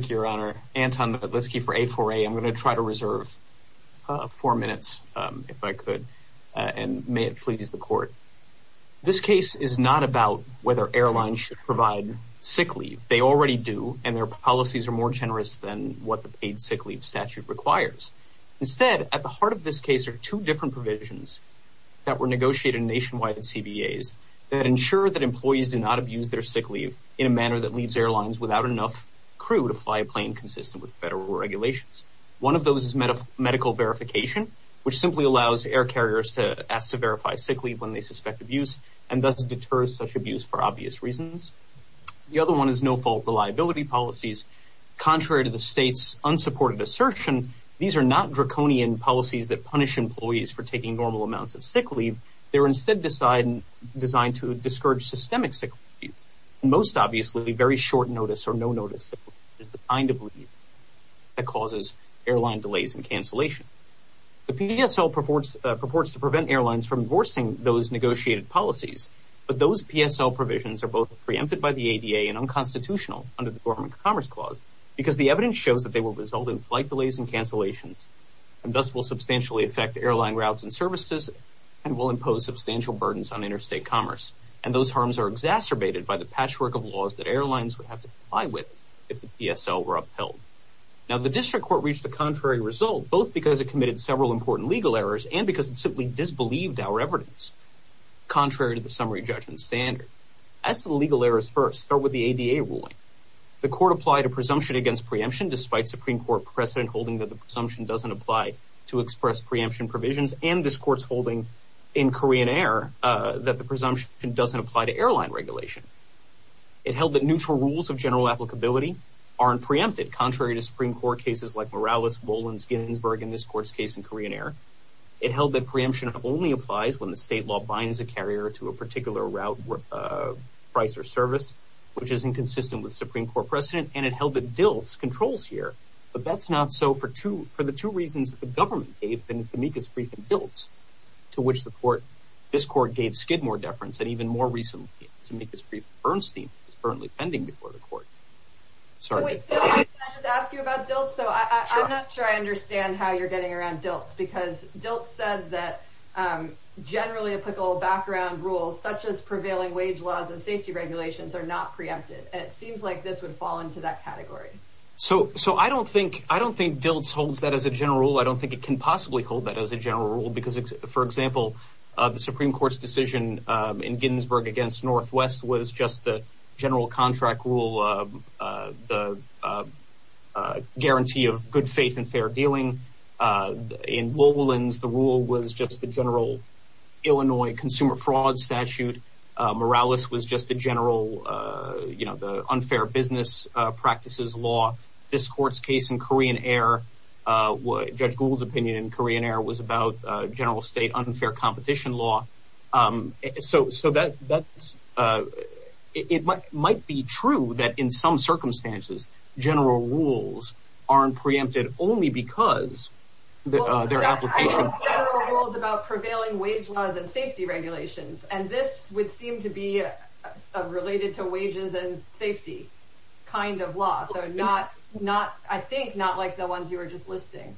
Thank you, Your Honor. Anton Matlitsky for A4A. I'm going to try to reserve four minutes if I could, and may it please the Court. This case is not about whether airlines should provide sick leave. They already do, and their policies are more generous than what the paid sick leave statute requires. Instead, at the heart of this case are two different provisions that were negotiated nationwide in CBAs that ensure that employees do not abuse their sick leave in a manner that leaves airlines without enough crew to fly a plane consistent with federal regulations. One of those is medical verification, which simply allows air carriers to ask to verify sick leave when they suspect abuse and thus deters such abuse for obvious reasons. The other one is no-fault reliability policies. Contrary to the state's unsupported assertion, these are not draconian policies that punish employees for taking normal amounts of sick leave. They're instead designed to discourage systemic sick leave, and most obviously, very short notice or no notice sick leave is the kind of leave that causes airline delays and cancellation. The PSL purports to prevent airlines from enforcing those negotiated policies, but those PSL provisions are both preempted by the ADA and unconstitutional under the Dormant Commerce Clause because the evidence shows that they will result in flight delays and cancellations, and thus will substantially affect airline routes and services and will impose substantial burdens on interstate commerce. And those harms are exacerbated by the patchwork of laws that airlines would have to comply with if the PSL were upheld. Now, the district court reached a contrary result, both because it committed several important legal errors and because it simply disbelieved our evidence, contrary to the summary judgment standard. As to the legal errors first, start with the ADA ruling. The court applied a presumption against preemption despite Supreme Court precedent holding that the presumption doesn't apply to express preemption provisions and this court's holding in Korean Air that the presumption doesn't apply to airline regulation. It held that neutral rules of general applicability aren't preempted contrary to Supreme Court cases like Morales, Boland, Ginsburg in this court's case in Korean Air. It held that preemption only applies when the state law binds a carrier to a particular route, price, or service, which is inconsistent with Supreme Court precedent, and it held that DILT's controls here, but that's not so for the two reasons that the government gave in Zemeckis brief and DILT's, to which the court, this court gave Skidmore deference and even more recently Zemeckis brief to Bernstein, which is currently pending before the court. Sorry. Wait, can I just ask you about DILT's? I'm not sure I understand how you're getting around DILT's because DILT's says that generally applicable background rules such as prevailing wage laws and safety regulations are not preempted, and it seems like this would fall into that category. So I don't think DILT's holds that as a general rule. I don't think it can possibly hold that as a general rule because, for example, the Supreme Court's decision in Ginsburg against Northwest was just the general contract rule, the guarantee of good faith and fair dealing. In Boland's, the rule was just the general Illinois consumer fraud statute. Morales was just the general, you know, the unfair business practices law. This court's case in Korean Air, Judge Gould's opinion in Korean Air was about general state unfair competition law. So that's, it might be true that in some circumstances general rules aren't preempted only because their application. Well, there are federal rules about prevailing wage laws and safety regulations, and this would seem to be related to wages and safety kind of law. So not, I think, not like the ones you were just listing.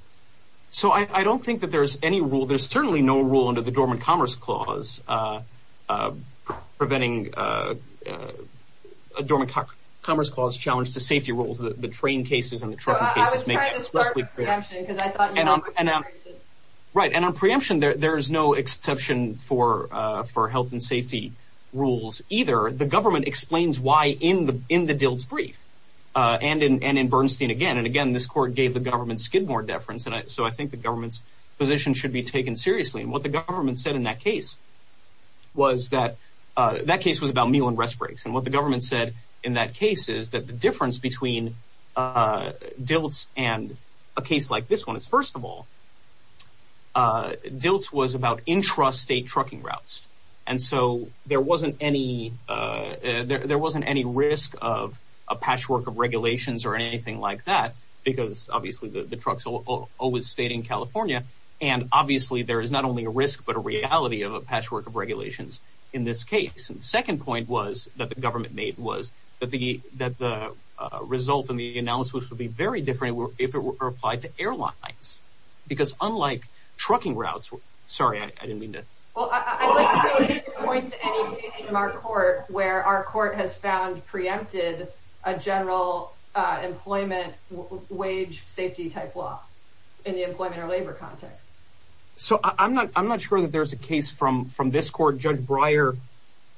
So I don't think that there's any rule, there's certainly no rule under the Dormant Commerce Clause preventing, Dormant Commerce Clause challenge to safety rules, the train cases and the trucking cases. So I was trying to start with preemption because I thought you were going to say preemption. Right, and on preemption there's no exception for health and safety rules either. The government explains why in the Dilt's brief and in Bernstein again. And again, this court gave the government Skidmore deference, so I think the government's position should be taken seriously. And what the government said in that case was that, that case was about meal and rest breaks. And what the government said in that case is that the difference between Dilt's and a case like this one is, first of all, Dilt's was about intrastate trucking routes. And so there wasn't any, there wasn't any risk of a patchwork of regulations or anything like that, because obviously the trucks always stayed in California. And obviously there is not only a risk, but a reality of a patchwork of regulations in this case. And the second point was that the government made was that the result in the analysis would be very different if it were applied to airlines. Because unlike trucking routes, sorry, I didn't mean to. Well, I'd like to point to any case in our court where our court has found preempted a general employment wage safety type law in the employment or labor context. So I'm not, I'm not sure that there's a case from, from this court. Judge Breyer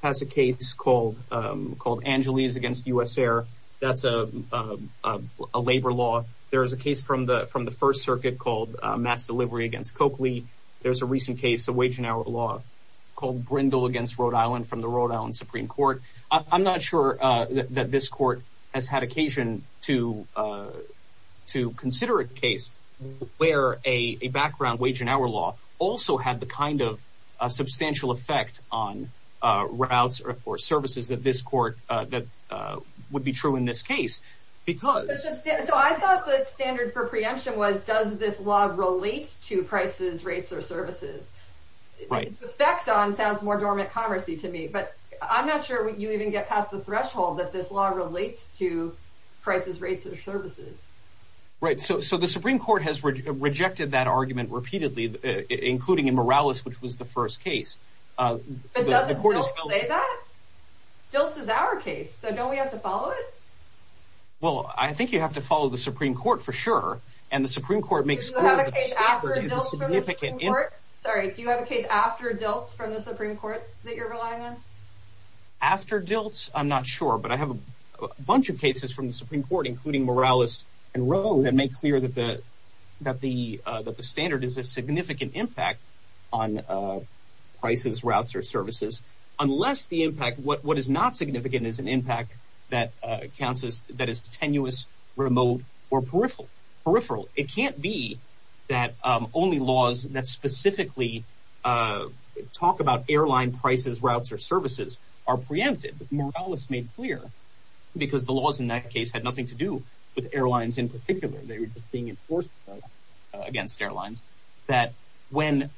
has a case called, called Angeles against US Air. That's a labor law. There is a case from the, from the first circuit called mass delivery against Coakley. There's a recent case of wage and hour law called Brindle against Rhode Island from the Rhode Island Supreme Court. I'm not sure that this court has had occasion to, to consider a case where a background wage and hour law also had the kind of a substantial effect on routes or services that this court, that would be true in this case because. So I thought the standard for preemption was, does this law relate to prices, rates or services? Right. Effect on sounds more dormant commercy to me, but I'm not sure you even get past the threshold that this law relates to prices, rates or services. Right. So, so the Supreme Court has rejected that argument repeatedly, including in Morales, which was the first case. Uh, it doesn't say that Dils is our case. So don't we have to follow it? Well, I think you have to follow the Supreme Court for sure. And the Supreme Court makes significant. Sorry. Do you have a case after Dils from the Supreme Court that you're relying on after Dils? I'm not sure, but I have a bunch of cases from the Supreme Court, including Morales and Rowe that make clear that the, that the, that the standard is a significant impact on, uh, prices, routes, or services, unless the impact, what, what is not significant is an impact that, uh, counts as that is tenuous, remote or peripheral peripheral. It can't be that, um, only laws that specifically, uh, talk about airline prices, routes, or services are preempted, but Morales made clear because the laws in that case had nothing to do with airlines in particular. They were just being enforced against airlines that when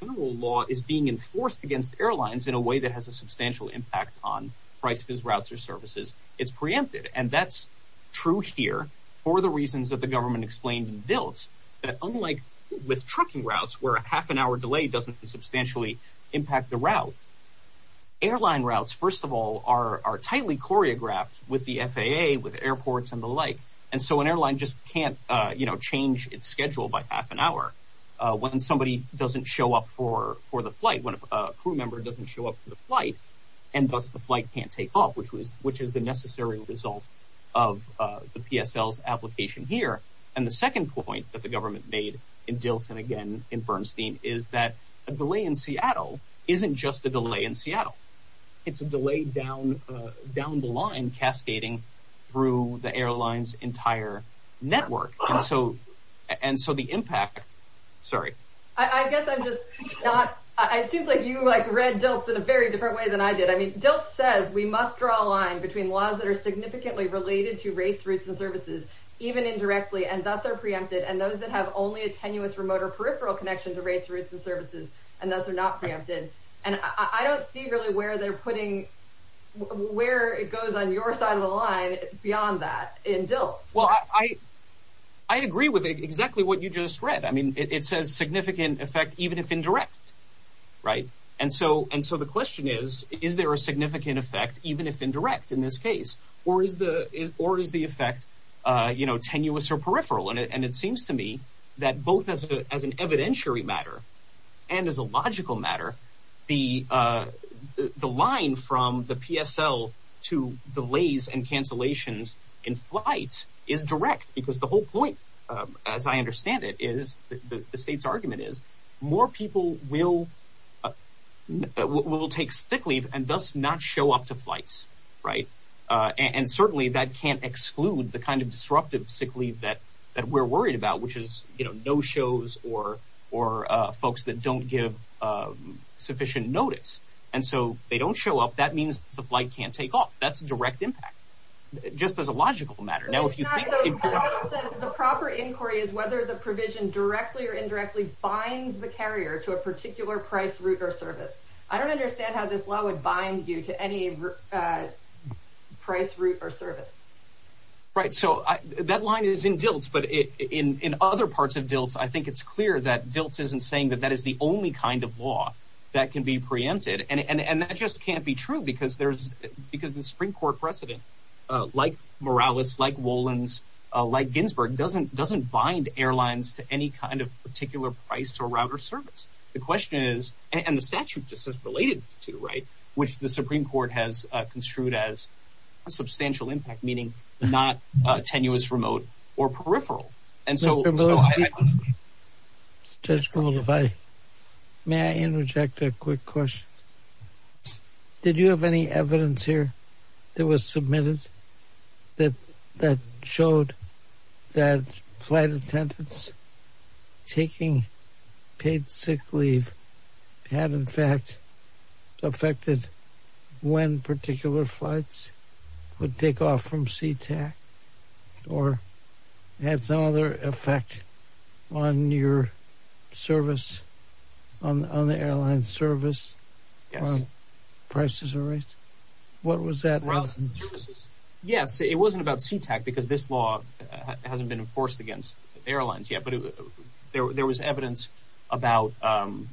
the law is being enforced against airlines in a way that has a substantial impact on prices, routes, or services, it's preempted. And that's true here for the reasons that the government explained in Dils that unlike with trucking routes where a half an hour delay doesn't substantially impact the route, airline routes, first of all, are, are tightly choreographed with the FAA, with airports and the like. And so an airline just can't, uh, you know, change its schedule by half an hour, uh, when somebody doesn't show up for, for the flight, when a crew member doesn't show up for the flight and thus the flight can't take off, which was, which is the necessary result of, uh, the PSL's application here. And the second point that the government made in Dils and again in Bernstein is that a delay in Seattle isn't just a delay in Seattle. It's a delay down, uh, down the line cascading through the airline's entire network. And so, and so the impact, sorry. I guess I'm just not, it seems like you like read Dils in a very different way than I did. I mean, Dils says we must draw a line between laws that are significantly related to rates, routes, and services, even indirectly, and thus are preempted. And those that have only a tenuous remote or peripheral connection to rates, routes, and services, and thus are not preempted. And I don't see really where they're putting, where it goes on your side of the line beyond that in Dils. Well, I, I agree with exactly what you just read. I mean, it says significant effect, even if indirect, right? And so, and so the question is, is there a significant effect, even if indirect in this case, or is the, is, or is the effect, uh, you know, tenuous or peripheral in it? And it seems to me that both as a, as an evidentiary matter and as a logical matter, the, uh, the, the line from the PSL to delays and cancellations in flights is direct because the whole point, um, as I understand it is the state's argument is more people will, uh, will take stick leave and thus not show up to flights. Right. Uh, and certainly that can't exclude the kind of disruptive sick leave that, that we're worried about, which is, you know, no shows or, or, uh, folks that don't give, um, sufficient notice. And so they don't show up. That means the flight can't take off. That's a direct impact just as a logical matter. Now, if you think the proper inquiry is whether the provision directly or indirectly binds the carrier to a particular price route or service, I don't price route or service. Right. So that line is in Diltz, but in, in, in other parts of Diltz, I think it's clear that Diltz isn't saying that that is the only kind of law that can be preempted. And, and, and that just can't be true because there's, because the Supreme court precedent, uh, like Morales, like Wolins, uh, like Ginsburg doesn't, doesn't bind airlines to any kind of particular price or router service. The question is, and the statute just as related to the right, which the Supreme court has construed as a substantial impact, meaning not a tenuous, remote or peripheral. And so, so I, I may interject a quick question. Did you have any evidence here that was submitted that, that showed that flight attendants taking paid sick leave had in fact affected when particular flights would take off from SeaTac or had some other effect on your service on, on the airline service prices or rates? What was that? Yes. It wasn't about SeaTac because this law hasn't been enforced against airlines yet, but there, there was evidence about, um,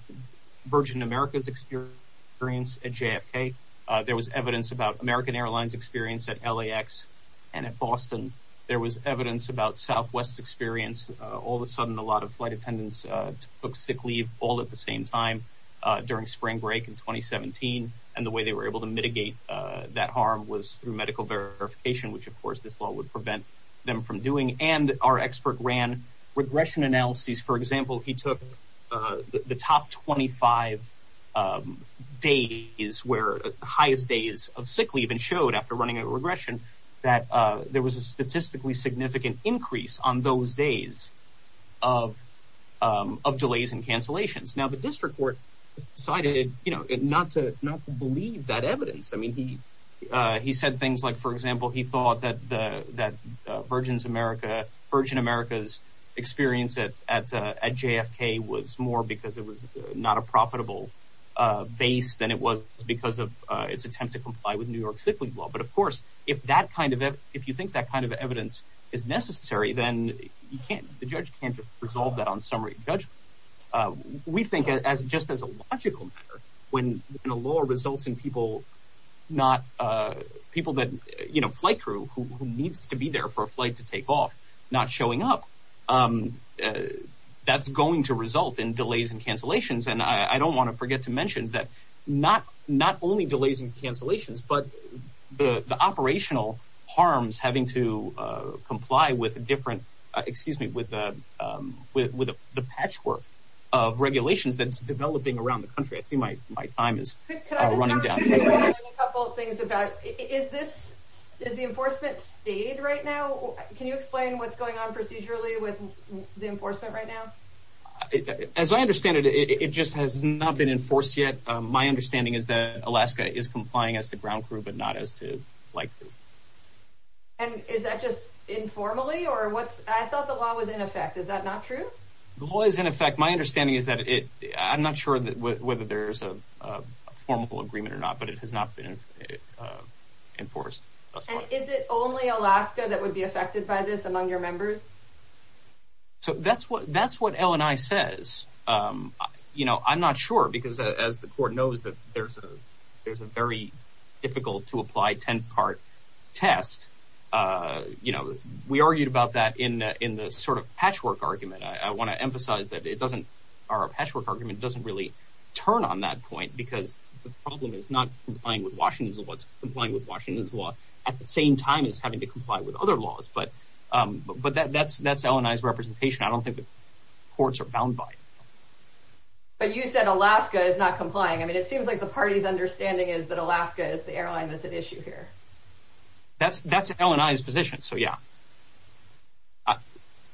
Virgin America's experience at JFK. Uh, there was evidence about American airlines experience at LAX and at Boston. There was evidence about Southwest experience. Uh, all of a sudden, a lot of flight attendants, uh, took sick leave all at the same time, uh, during spring break in 2017. And the way they were able to mitigate, uh, that harm was through medical verification, which of course this law would regression analysis. For example, he took, uh, the top 25, um, days where the highest days of sick leave and showed after running a regression that, uh, there was a statistically significant increase on those days of, um, of delays and cancellations. Now the district court decided, you know, not to, not to believe that evidence. I mean, he, uh, he said things like, for example, he thought that the, that, uh, Virgin America, Virgin America's experience at, at, uh, at JFK was more because it was not a profitable, uh, base than it was because of, uh, its attempt to comply with New York sick leave law. But of course, if that kind of, if you think that kind of evidence is necessary, then you can't, the judge can't resolve that on summary judgment. Uh, we think as, just as a logical matter, when the law results in people, not, uh, people that, you know, flight crew who needs to be there for a flight to take off, not showing up, um, uh, that's going to result in delays and cancellations. And I don't want to forget to mention that not, not only delays and cancellations, but the operational harms having to, uh, comply with a different, uh, excuse me, with, uh, um, with, with the patchwork of regulations that's developing around the country. I see my, my time is running down. A couple of things about, is this, is the enforcement state right now? Can you explain what's going on procedurally with the enforcement right now? As I understand it, it just has not been enforced yet. Um, my understanding is that Alaska is complying as the ground crew, but not as to like, and is that just informally or what's, I thought the law was in effect. Is that not true? The law is in effect. My understanding is that it, I'm not sure that whether there's a, a formal agreement or not, but it has not been, uh, enforced. Is it only Alaska that would be affected by this among your members? So that's what, that's what LNI says. Um, you know, I'm not sure because as the court knows that there's a, there's a very difficult to apply 10 part test. Uh, you know, we argued about that in the, in the sort of patchwork argument. I want to emphasize that it doesn't, our patchwork argument doesn't really turn on that point because the problem is not complying with Washington's and what's complying with Washington's law at the same time as having to comply with other laws. But, um, but, but that, that's, that's LNI's representation. I don't think the courts are bound by it. But you said Alaska is not complying. I mean, it seems like the party's understanding is that Alaska is the airline that's an issue here. That's, that's LNI's position. So yeah,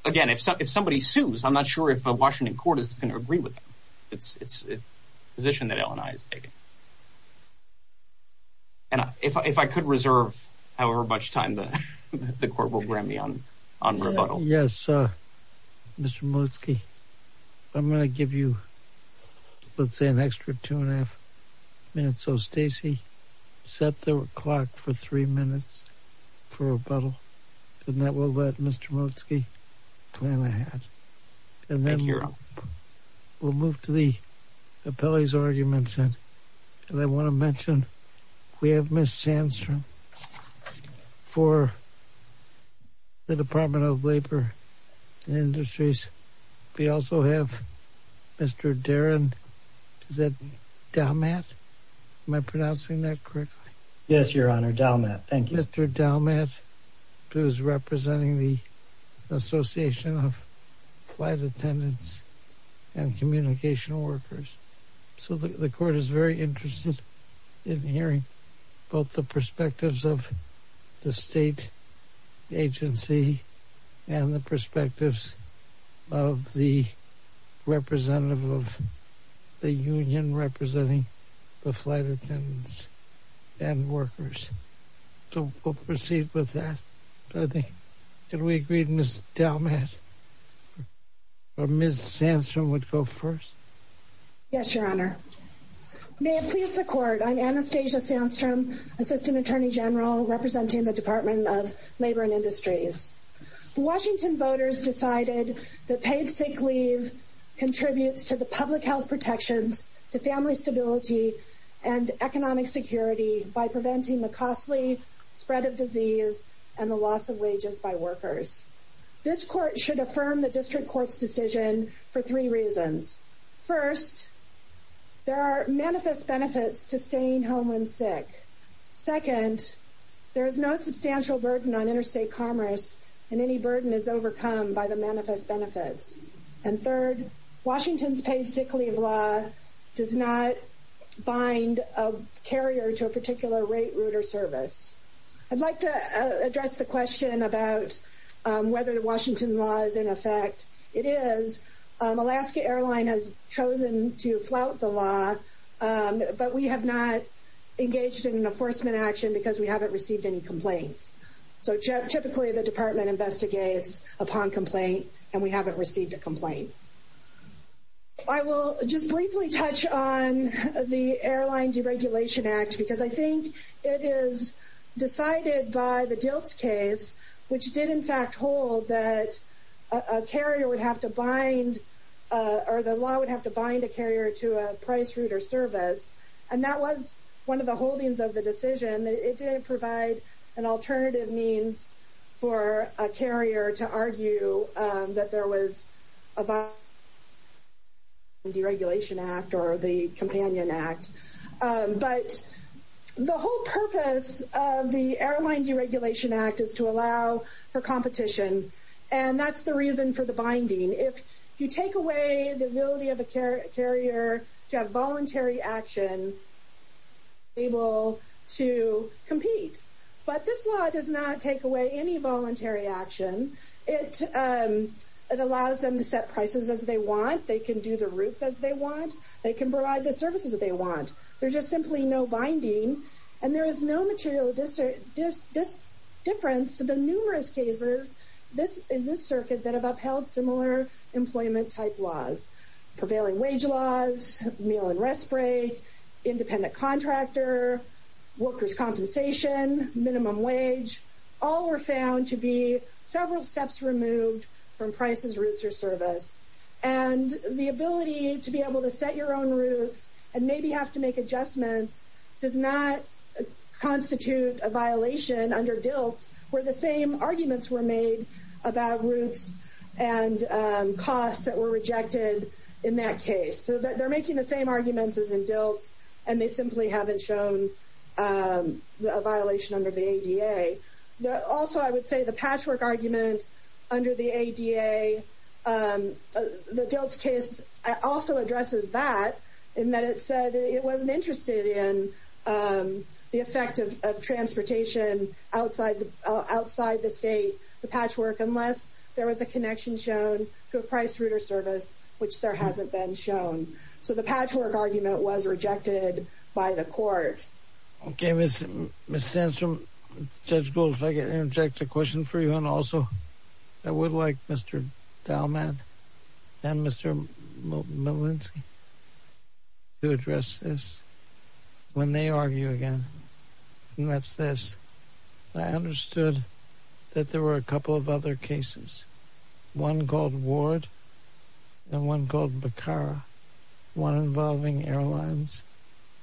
again, if somebody sues, I'm not sure if a Washington court is going to agree with them. It's, it's a position that LNI is taking. And if I, if I could reserve however much time the, the court will grant me on, on rebuttal. Yes. Mr. Motzke, I'm going to give you, let's say an extra two and a half minutes. So Stacy set the clock for three minutes for rebuttal and that will let Mr. Motzke plan ahead. And then we'll move to the appellee's arguments. And I want to mention we have Ms. Sandstrom for the Department of Labor and Industries. We also have Mr. Darin, is that Dalmat? Am I pronouncing that correctly? Yes, Your Honor. Dalmat. Thank you. Mr. Dalmat who is representing the Association of Flight Attendants and Communicational Workers. So the court is very interested in hearing both the perspectives of the state agency and the perspectives of the representative of the union representing the flight attendants and workers. So we'll proceed with that. I think, can we agree Ms. Dalmat or Ms. Sandstrom would go first? Yes, Your Honor. May it please the court, I'm Anastasia Sandstrom, Assistant Attorney General representing the Department of Labor and Industries. Washington voters decided that paid sick leave contributes to the public health protections to family stability and economic security by preventing the costly spread of disease and the loss of wages by workers. This court should affirm the district court's decision for three reasons. First, there are manifest benefits to staying home when sick. Second, there is no substantial burden on interstate commerce and any burden is overcome by the manifest benefits. And third, Washington's paid sick leave law does not bind a carrier to a particular rate route or service. I'd like to address the question about whether the Washington law is in effect. It is. Alaska Airline has chosen to flout the law, but we have not engaged in an enforcement action because we haven't received any complaints. So typically the department investigates upon complaint and we haven't received a complaint. I will just briefly touch on the Airline Deregulation Act because I think it is decided by the DILTS case, which did in fact hold that a carrier would have to bind, or the law would have to bind a carrier to a price route or service. And that was one of the holdings of the decision. It didn't provide an alternative means for a carrier to argue that there was a violation of the Airline Deregulation Act or the Companion Act. But the whole purpose of the Airline Deregulation Act is to allow for competition and that's the reason for the binding. If you take away the ability of a carrier to have voluntary action, they will be able to compete. But this law does not take away any voluntary action. It allows them to set prices as they want. They can do the routes as they want. They can provide the services that they want. There's just simply no binding and there is no material difference to the numerous cases in this circuit that have upheld similar employment type laws. Prevailing wage laws, meal and rest break, independent contractor, workers' compensation, minimum wage, all were found to be several steps removed from prices, routes, or service. And the ability to be able to set your own routes and maybe have to make adjustments does not constitute a violation under DILT where the same arguments were made about routes and costs that were rejected in that case. So they're making the same arguments as in DILT and they simply haven't shown a violation under the ADA. Also, I would say the patchwork argument under the ADA, the DILT case also addresses that, in that it said it wasn't interested in the effect of transportation outside the state, the patchwork, unless there was a connection shown to a price, route, or service which there hasn't been shown. So the patchwork argument was rejected by the court. Okay, Ms. Sandstrom, Judge Gould, if I can interject a question for you and also I would like Mr. Malinsky to address this. When they argue again, and that's this, I understood that there were a couple of other cases, one called Ward and one called Bacara, one involving airlines,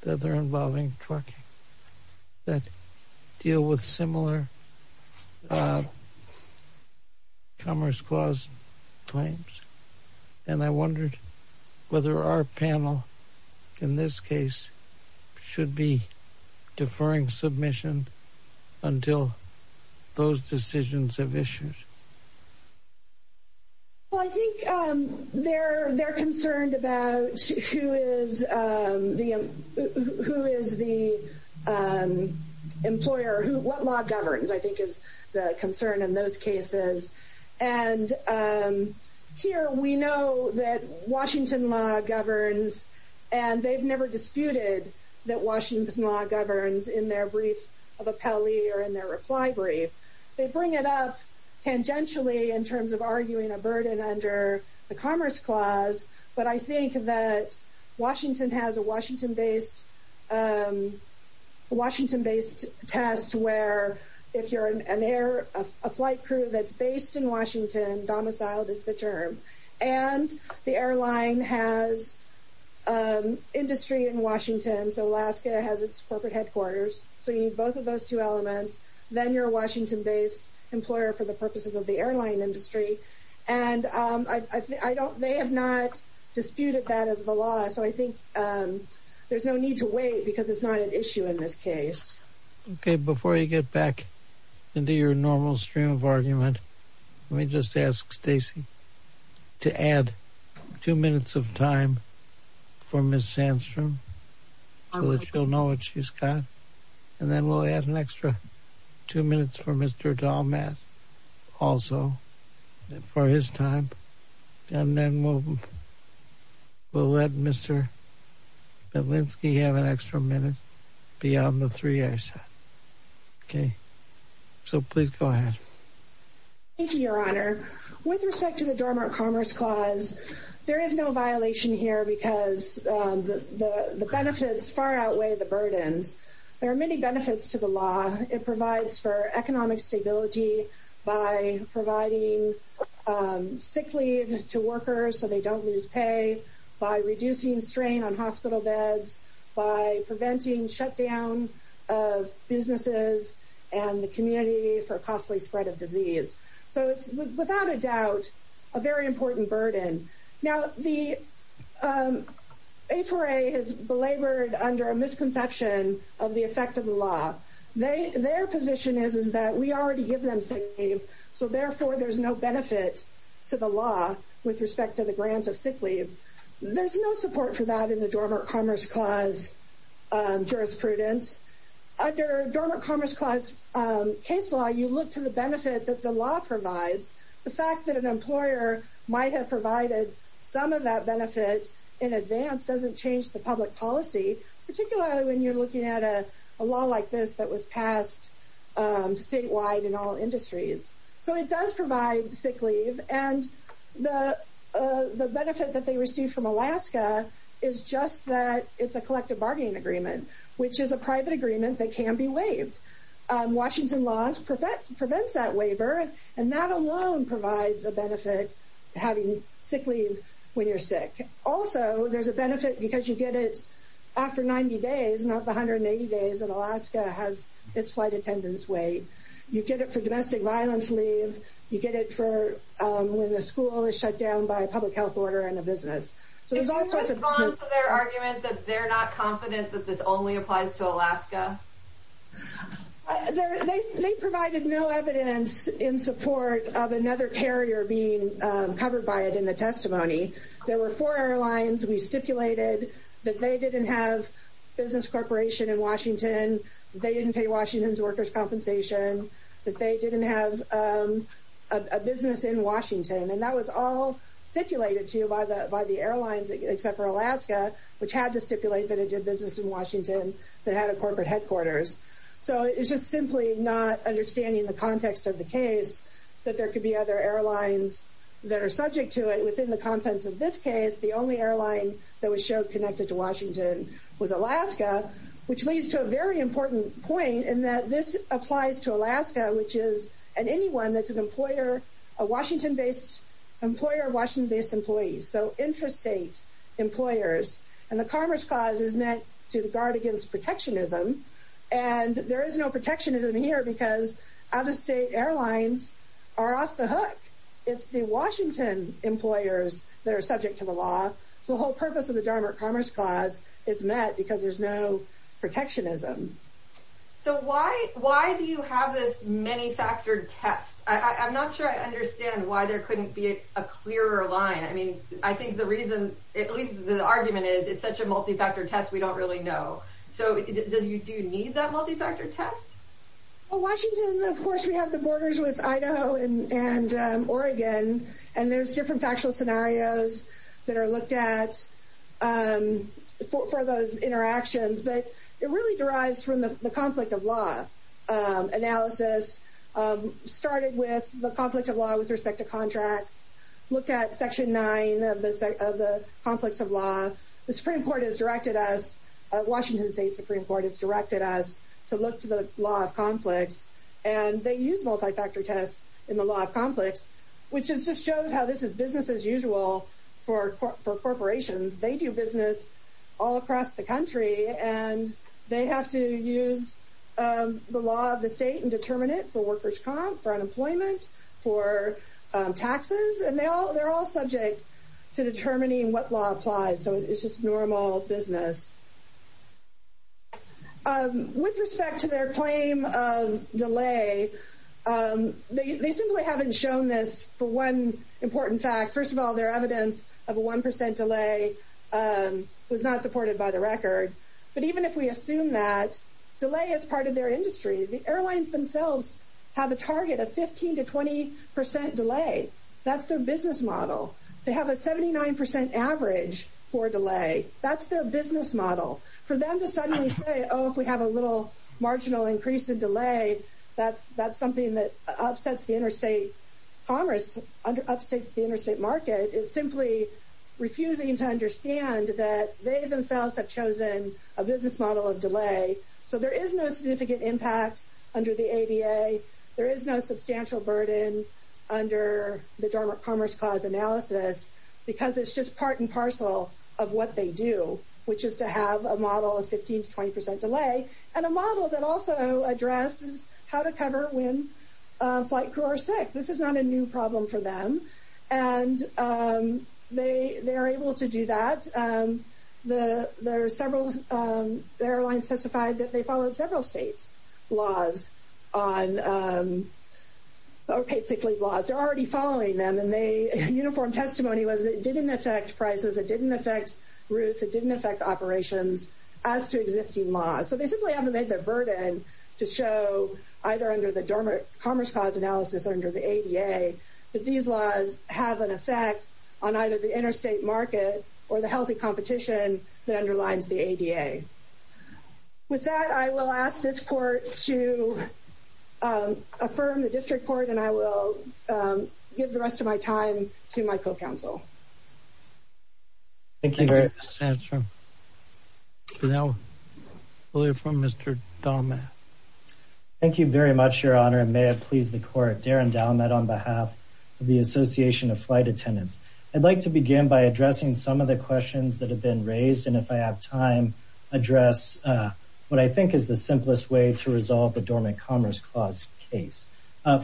the other involving trucking, that deal with similar Commerce Clause claims. And I wondered whether our panel, in this case, should be deferring submission until those decisions have issued. Well, I think they're concerned about who is the employer, what law governs, I think is the concern in those cases. And here we know that Washington law governs, and they've never disputed that Washington law governs in their brief of appellee or in their reply brief. They bring it up tangentially in terms of arguing a burden under the Commerce Clause, but I think that Washington has a Washington-based test where if you're an air flight crew that's based in Washington, domiciled is the term, and the airline has industry in Washington, so Alaska has its corporate headquarters, so you need both of those two elements, then you're a Washington-based employer for the purposes of the airline industry. And they have not disputed that as the law, so I think there's no need to wait because it's not an issue in this case. Okay, before you get back into your normal stream of argument, let me just ask Stacey to add two minutes of time for Ms. Sandstrom so that she'll know what she's got, and then we'll add an extra two minutes for Mr. Dahlmatt also for his time, and then we'll let Mr. Belinsky have an extra minute beyond the three I said. Okay, so please go ahead. Thank you, Your Honor. With respect to the Dormant Commerce Clause, there is no violation here because the benefits far outweigh the burdens. There are many benefits to the law. It provides for economic stability by providing sick leave to workers so they don't lose pay, by reducing strain on hospital beds, by preventing shutdown of businesses and the community for A4A has belabored under a misconception of the effect of the law. Their position is that we already give them sick leave, so therefore there's no benefit to the law with respect to the grant of sick leave. There's no support for that in the Dormant Commerce Clause jurisprudence. Under Dormant Commerce Clause case law, you look to the benefit that the law provides. The fact that an employer might have provided some of that benefit in advance doesn't change the public policy, particularly when you're looking at a law like this that was passed statewide in all industries. So it does provide sick leave, and the benefit that they receive from Alaska is just that it's a collective bargaining agreement, which is a private agreement that can be waived. Washington laws prevent that waiver, and that alone provides a benefit, having sick leave when you're sick. Also, there's a benefit because you get it after 90 days, not the 180 days that Alaska has its flight attendance wait. You get it for domestic violence leave. You get it for when the school is shut down by a public health order and a business. So there's all sorts of... In response to their argument that they're not confident that this only applies to Alaska? They provided no evidence in support of another carrier being covered by it in the testimony. There were four airlines. We stipulated that they didn't have business corporation in Washington. They didn't pay Washington's workers' compensation. That they didn't have a business in Washington. And that was all stipulated to you by the airlines, except for Alaska, which had to stipulate that it did business in Washington that had a corporate headquarters. So it's just simply not understanding the context of the case that there could be other airlines that are subject to it within the contents of this case. The only airline that was shown connected to Washington was Alaska, which leads to a very important point in that this applies to Alaska, which is... And anyone that's an employer of Washington-based employees. So intrastate employers. And the Commerce Clause is meant to guard against protectionism. And there is no protectionism here because out-of-state airlines are off the hook. It's the Washington employers that are subject to the law. So the whole purpose of the Dartmouth Commerce Clause is met because there's no protectionism. So why do you have this many-factored test? I'm not sure I understand why there couldn't be a clearer line. I mean, I think the reason, at least the argument is, it's such a multi-factor test we don't really know. So do you need that multi-factor test? Well, Washington, of course, we have the borders with Idaho and Oregon. And there's different factual scenarios that are looked at for those interactions. But it really derives from the conflict of law analysis. Started with the conflict of law with respect to contracts. Look at Section 9 of the Conflicts of Law. The Supreme Court has directed us... Washington State Supreme Court has directed us to look to the Law of Conflicts. And they use multi-factor tests in the Law of Conflicts, which just shows how this is business as usual for corporations. They do business all across the country. And they have to use the law of the state and determine it for workers' comp, for unemployment, for taxes. And they're all subject to determining what law applies. So it's just normal business. With respect to their claim of delay, they simply haven't shown this for one important fact. First of all, their evidence of a one percent delay was not supported by the record. But even if we assume that delay is part of their industry, the airlines themselves have a target of 15 to 20 percent delay. That's their business model. They have a 79 percent average for delay. That's their business model. For them to suddenly say, oh, if we have a little marginal increase in delay, that's something that upsets the interstate commerce, upsets the interstate market, is simply refusing to understand that they themselves have chosen a business model of delay. So there is no significant impact under the ADA. There is no substantial burden under the Dormant Commerce Clause analysis, because it's just part and parcel of what they do, which is to have a model of 15 to 20 percent delay, and a model that also addresses how to cover when flight crew are sick. This is not a new problem for them, and they are able to do that. The airlines testified that they followed several states' laws on, or paid sick leave laws. They're already following them, and their uniform testimony was it didn't affect prices, it didn't affect routes, it didn't affect operations, as to existing laws. So they simply haven't made the burden to show, either under the Dormant Commerce Clause analysis or under the ADA, that these laws have an effect on either the interstate market or the healthy competition that underlines the ADA. With that, I will ask this court to affirm the district court, and I will give the rest of my time to my co-counsel. Thank you very much, Your Honor, and may it please the court. Darren Dalmet on behalf of the Association of Flight Attendants. I'd like to begin by addressing some of the questions that have been raised, and if I have time, address what I think is the simplest way to resolve the Dormant Commerce Clause case.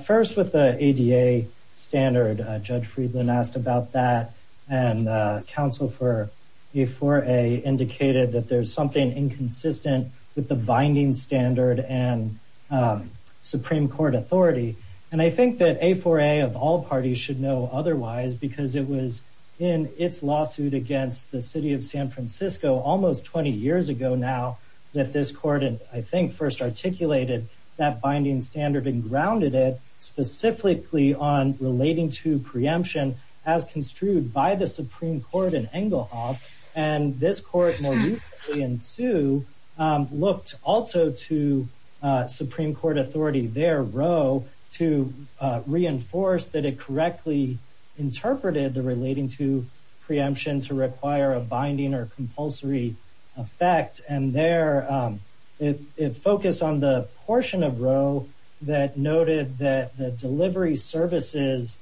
First, with the ADA standard, Judge Friedland asked about that, and counsel for A4A indicated that there's something inconsistent with the binding standard and Supreme Court authority. And I think that A4A of all parties should know otherwise, because it was in its lawsuit against the city of San Francisco almost 20 years ago now, that this binding standard and grounded it specifically on relating to preemption as construed by the Supreme Court in Engelhoff, and this court more recently in sue, looked also to Supreme Court authority there, Roe, to reinforce that it correctly interpreted the relating to preemption to require a binding or compulsory effect, and there it focused on the portion of Roe that noted that the delivery services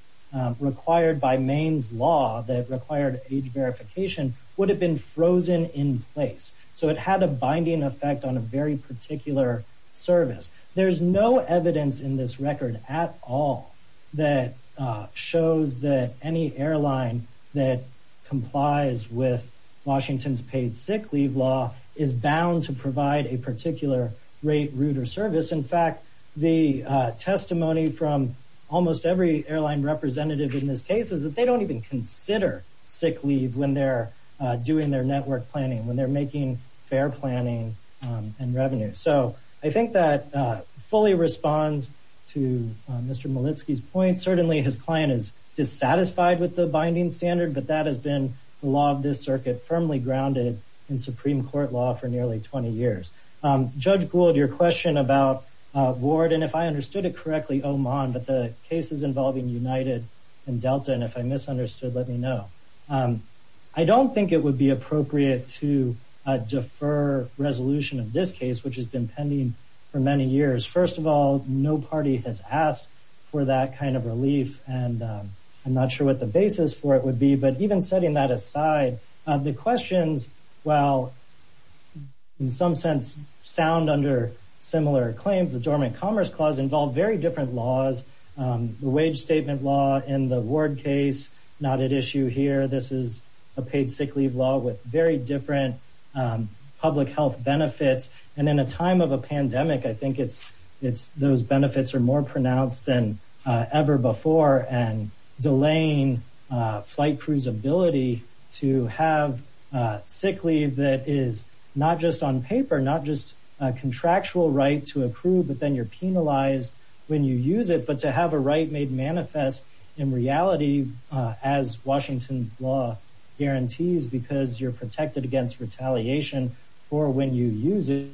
required by Maine's law that required age verification would have been frozen in place. So it had a binding effect on a very particular service. There's no evidence in this record at all that shows that any airline that complies with Washington's paid sick leave law is bound to provide a particular rate, route, or service. In fact, the testimony from almost every airline representative in this case is that they don't even consider sick leave when they're doing their network planning, when they're making fare planning and revenue. So I think that fully responds to Mr. Malitsky's point. Certainly his client is dissatisfied with the binding standard, but that has been the law of this circuit firmly grounded in Supreme Court law for nearly 20 years. Judge Gould, your question about Ward, and if I understood it correctly, Oman, but the cases involving United and Delta, and if I misunderstood, let me know. I don't think it would be appropriate to defer resolution of this case, which has been pending for many years. First of all, no party has asked for that kind of relief, and I'm not sure what the basis for it would be. But even setting that aside, the questions, while in some sense sound under similar claims, the Dormant Commerce Clause involved very different laws. The wage statement law in the Ward case, not at issue here. This is a paid sick leave law with very different public health benefits, and in a time of a pandemic, I think those benefits are more pronounced than ever before, and delaying flight crews' ability to have sick leave that is not just on paper, not just a contractual right to approve, but then you're penalized when you use it. But to have a right made manifest in reality, as Washington's law guarantees, because you're protected against retaliation for when you use it,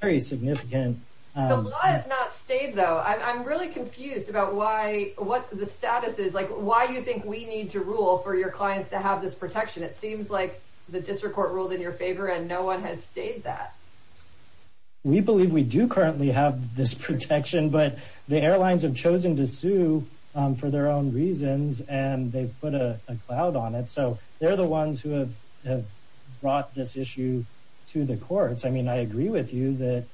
very significant. The law has not stayed though. I'm really confused about why, what the status is, like why you think we need to rule for your clients to have this protection? It seems like the district court ruled in your favor, and no one has stayed that. We believe we do currently have this protection, but the airlines have chosen to sue for their reasons, and they've put a cloud on it, so they're the ones who have brought this issue to the courts. I mean, I agree with you that...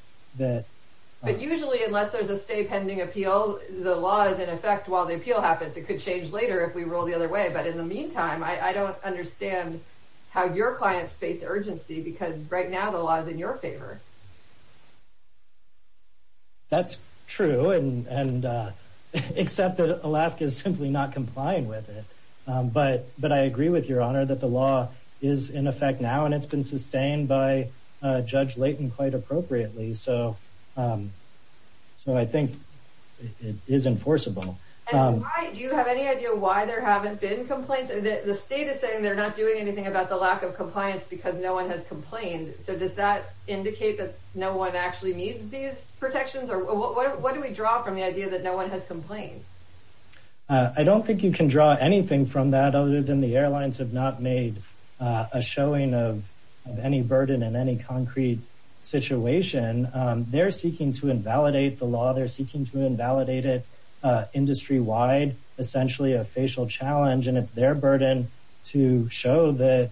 But usually, unless there's a stay pending appeal, the law is in effect while the appeal happens. It could change later if we roll the other way, but in the meantime, I don't understand how your clients face urgency, because right now, the law is in your favor. That's true, except that Alaska is simply not complying with it. But I agree with your honor that the law is in effect now, and it's been sustained by Judge Layton quite appropriately, so I think it is enforceable. Do you have any idea why there haven't been complaints? The state is saying they're not doing anything about the lack of protection. Does that indicate that no one actually needs these protections, or what do we draw from the idea that no one has complained? I don't think you can draw anything from that, other than the airlines have not made a showing of any burden in any concrete situation. They're seeking to invalidate the law. They're seeking to invalidate it industry-wide, essentially a facial challenge, and it's their burden to show that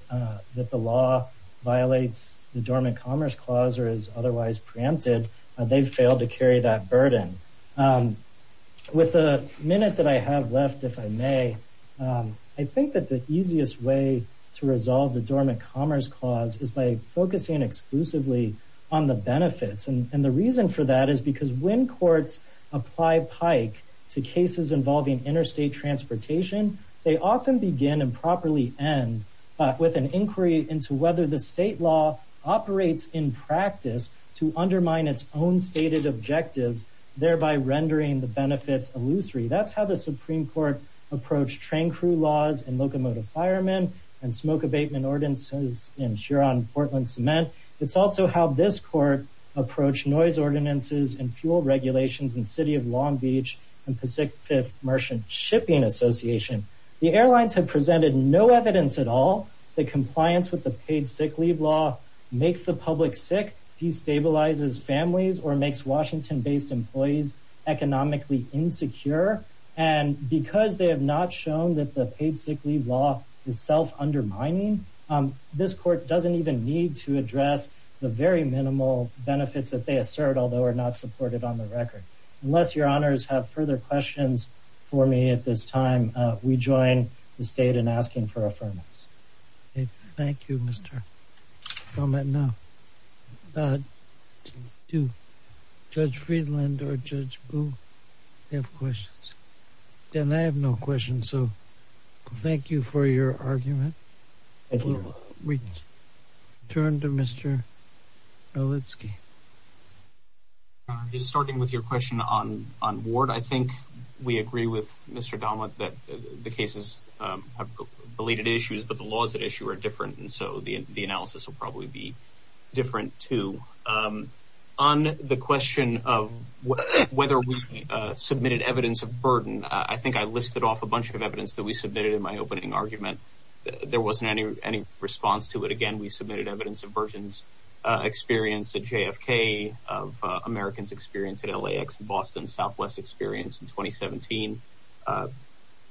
the law violates the Dormant Commerce Clause, or is otherwise preempted. They've failed to carry that burden. With the minute that I have left, if I may, I think that the easiest way to resolve the Dormant Commerce Clause is by focusing exclusively on the benefits, and the reason for that is because when courts apply PIKE to cases involving interstate transportation, they often begin and properly end with an inquiry into whether the state law operates in practice to undermine its own stated objectives, thereby rendering the benefits illusory. That's how the Supreme Court approached train crew laws in locomotive firemen and smoke abatement ordinances in Huron-Portland cement. It's also how this court approached noise ordinances and fuel regulations in City of Long Beach and Pacific Merchant Shipping Association. The airlines have presented no evidence at all that compliance with the paid sick leave law makes the public sick, destabilizes families, or makes Washington-based employees economically insecure, and because they have not shown that the paid sick leave law is undermining, this court doesn't even need to address the very minimal benefits that they assert, although are not supported on the record. Unless your honors have further questions for me at this time, we join the state in asking for affirmance. Thank you, Mr. Foment. Now, do Judge Friedland or Judge Boo have questions? Dan, I have no questions, so thank you for your argument. We turn to Mr. Olitski. Just starting with your question on Ward, I think we agree with Mr. Donlett that the cases have belated issues, but the laws at issue are different, and so the analysis will probably be I think I listed off a bunch of evidence that we submitted in my opening argument. There wasn't any response to it. Again, we submitted evidence of versions experienced at JFK, of Americans experienced at LAX, Boston, Southwest experienced in 2017.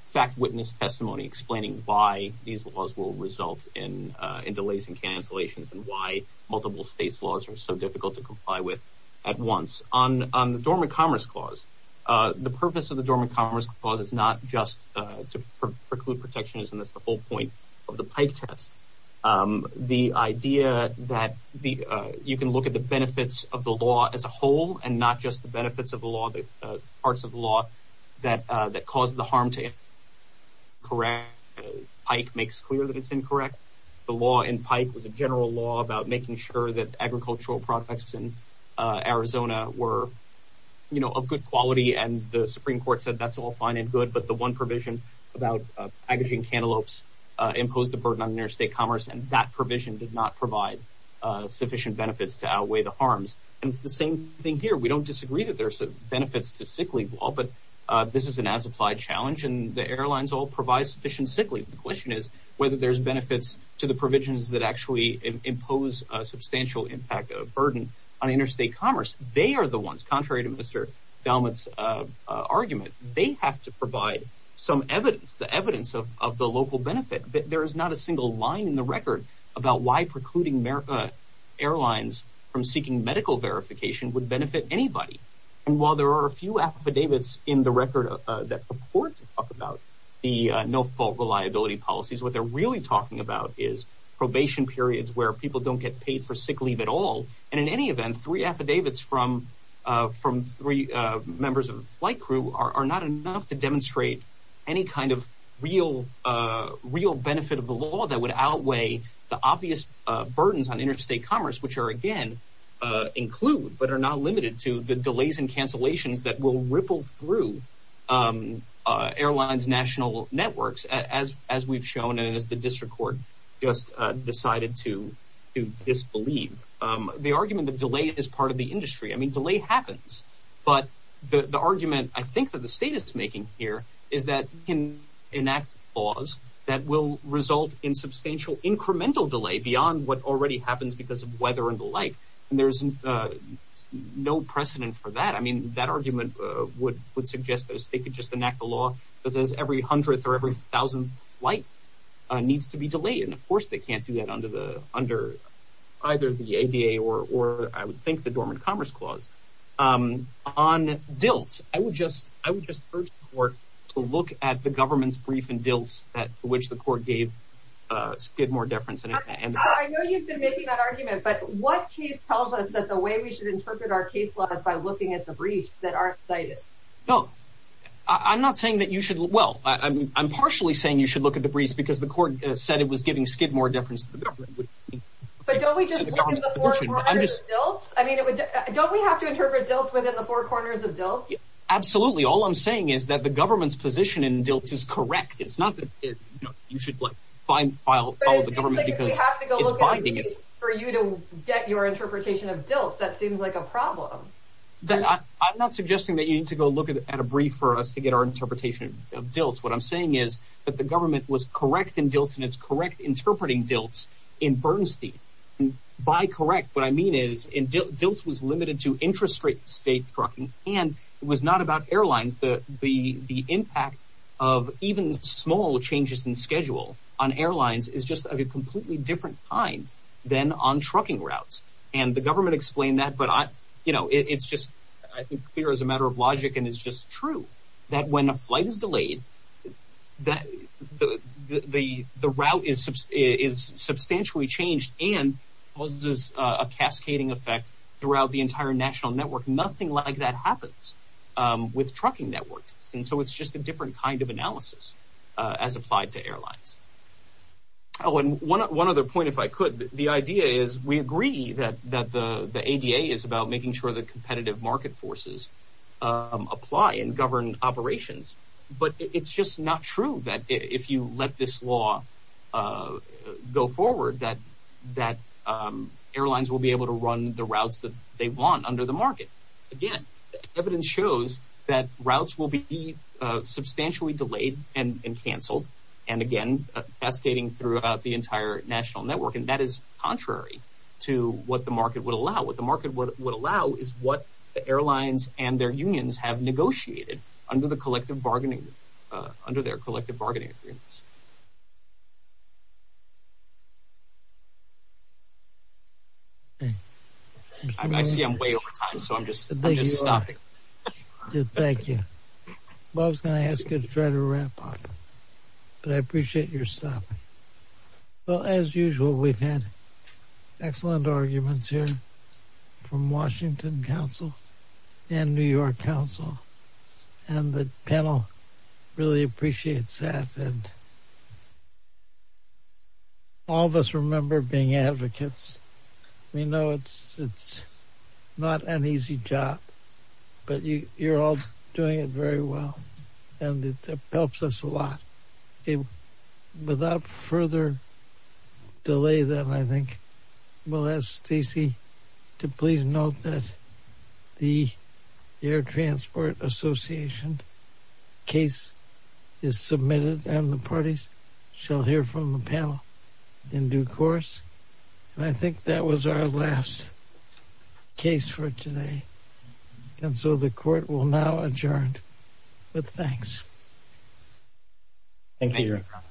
Fact-witness testimony explaining why these laws will result in delays and cancellations and why multiple states' laws are so difficult to comply with at once. On the Dormant Commerce Clause, the purpose of the Dormant Commerce Clause is not just to preclude protectionism. That's the whole point of the Pike test. The idea that you can look at the benefits of the law as a whole and not just the benefits of the law, the parts of the law that cause the harm to it. Pike makes clear that it's incorrect. The law in Pike was a general law about making sure that the Supreme Court said that's all fine and good, but the one provision about packaging cantaloupes imposed a burden on interstate commerce, and that provision did not provide sufficient benefits to outweigh the harms. It's the same thing here. We don't disagree that there's benefits to sick leave law, but this is an as-applied challenge, and the airlines all provide sufficient sick leave. The question is whether there's benefits to the provisions that actually impose a substantial impact of burden on interstate commerce. They are the ones, contrary to Mr. Dalmutt's argument, they have to provide some evidence, the evidence of the local benefit. There is not a single line in the record about why precluding airlines from seeking medical verification would benefit anybody, and while there are a few affidavits in the record that report to talk about the no-fault reliability policies, what they're really talking about is probation periods where people don't get paid for sick leave at all, and in any event, three affidavits from three members of the flight crew are not enough to demonstrate any kind of real benefit of the law that would outweigh the obvious burdens on interstate commerce, which are again include, but are not limited to, the delays and cancellations that will ripple through airlines' national networks, as we've shown and as the district court just decided to disbelieve. The argument of delay is part of the industry. I mean, delay happens, but the argument I think that the state is making here is that we can enact laws that will result in substantial incremental delay beyond what already happens because of weather and the like, and there's no precedent for that. I mean, that argument would suggest that if they could just enact a law that says every hundredth or every thousandth flight needs to be delayed, and of course, you can't do that under either the ADA or I would think the Dormant Commerce Clause. On dilts, I would just urge the court to look at the government's brief and dilts that which the court gave skid more difference. I know you've been making that argument, but what case tells us that the way we should interpret our case law is by looking at the briefs that aren't cited? No, I'm not saying that you should, well, I'm partially saying you should look at the briefs because the court said it was giving skid more difference to the government. But don't we just look at the four corners of dilts? I mean, don't we have to interpret dilts within the four corners of dilts? Absolutely. All I'm saying is that the government's position in dilts is correct. It's not that you should find, file, follow the government because it's binding. But it seems like if we have to go look at a brief for you to get your interpretation of dilts, that seems like a problem. I'm not suggesting that you need to go look at a brief for us to get our interpretation of dilts. What I'm saying is that the government was correct in dilts and it's correct interpreting dilts in Bernstein. By correct, what I mean is dilts was limited to intrastate state trucking and it was not about airlines. The impact of even small changes in schedule on airlines is just of a completely different kind than on trucking routes. And the government explained that, but it's just, I think, clear as a matter of logic. And it's just true that when a flight is delayed, the route is substantially changed and causes a cascading effect throughout the entire national network. Nothing like that happens with trucking networks. And so it's just a different kind of analysis as applied to airlines. Oh, and one other point, if I could, the idea is we agree that the ADA is about making sure that competitive market forces apply and govern operations. But it's just not true that if you let this law go forward, that airlines will be able to run the routes that they want under the market. Again, evidence shows that routes will be substantially delayed and canceled. And again, cascading throughout the entire national network. And that is contrary to what the market would allow. What the market would allow is what bargaining, under their collective bargaining agreements. I see I'm way over time, so I'm just stopping. Thank you. Bob's going to ask you to try to wrap up, but I appreciate your stop. Well, as usual, we've had excellent arguments here from Washington Council and New York Council, and the panel really appreciates that. All of us remember being advocates. We know it's not an easy job, but you're all doing it very well and it helps us a lot. Without further delay then, I think we'll ask Stacey to please note that the Air Transport Association case is submitted and the parties shall hear from the panel in due course. And I think that was our last case for today. And so the court will now adjourn with thanks. Thank you, Your Honor.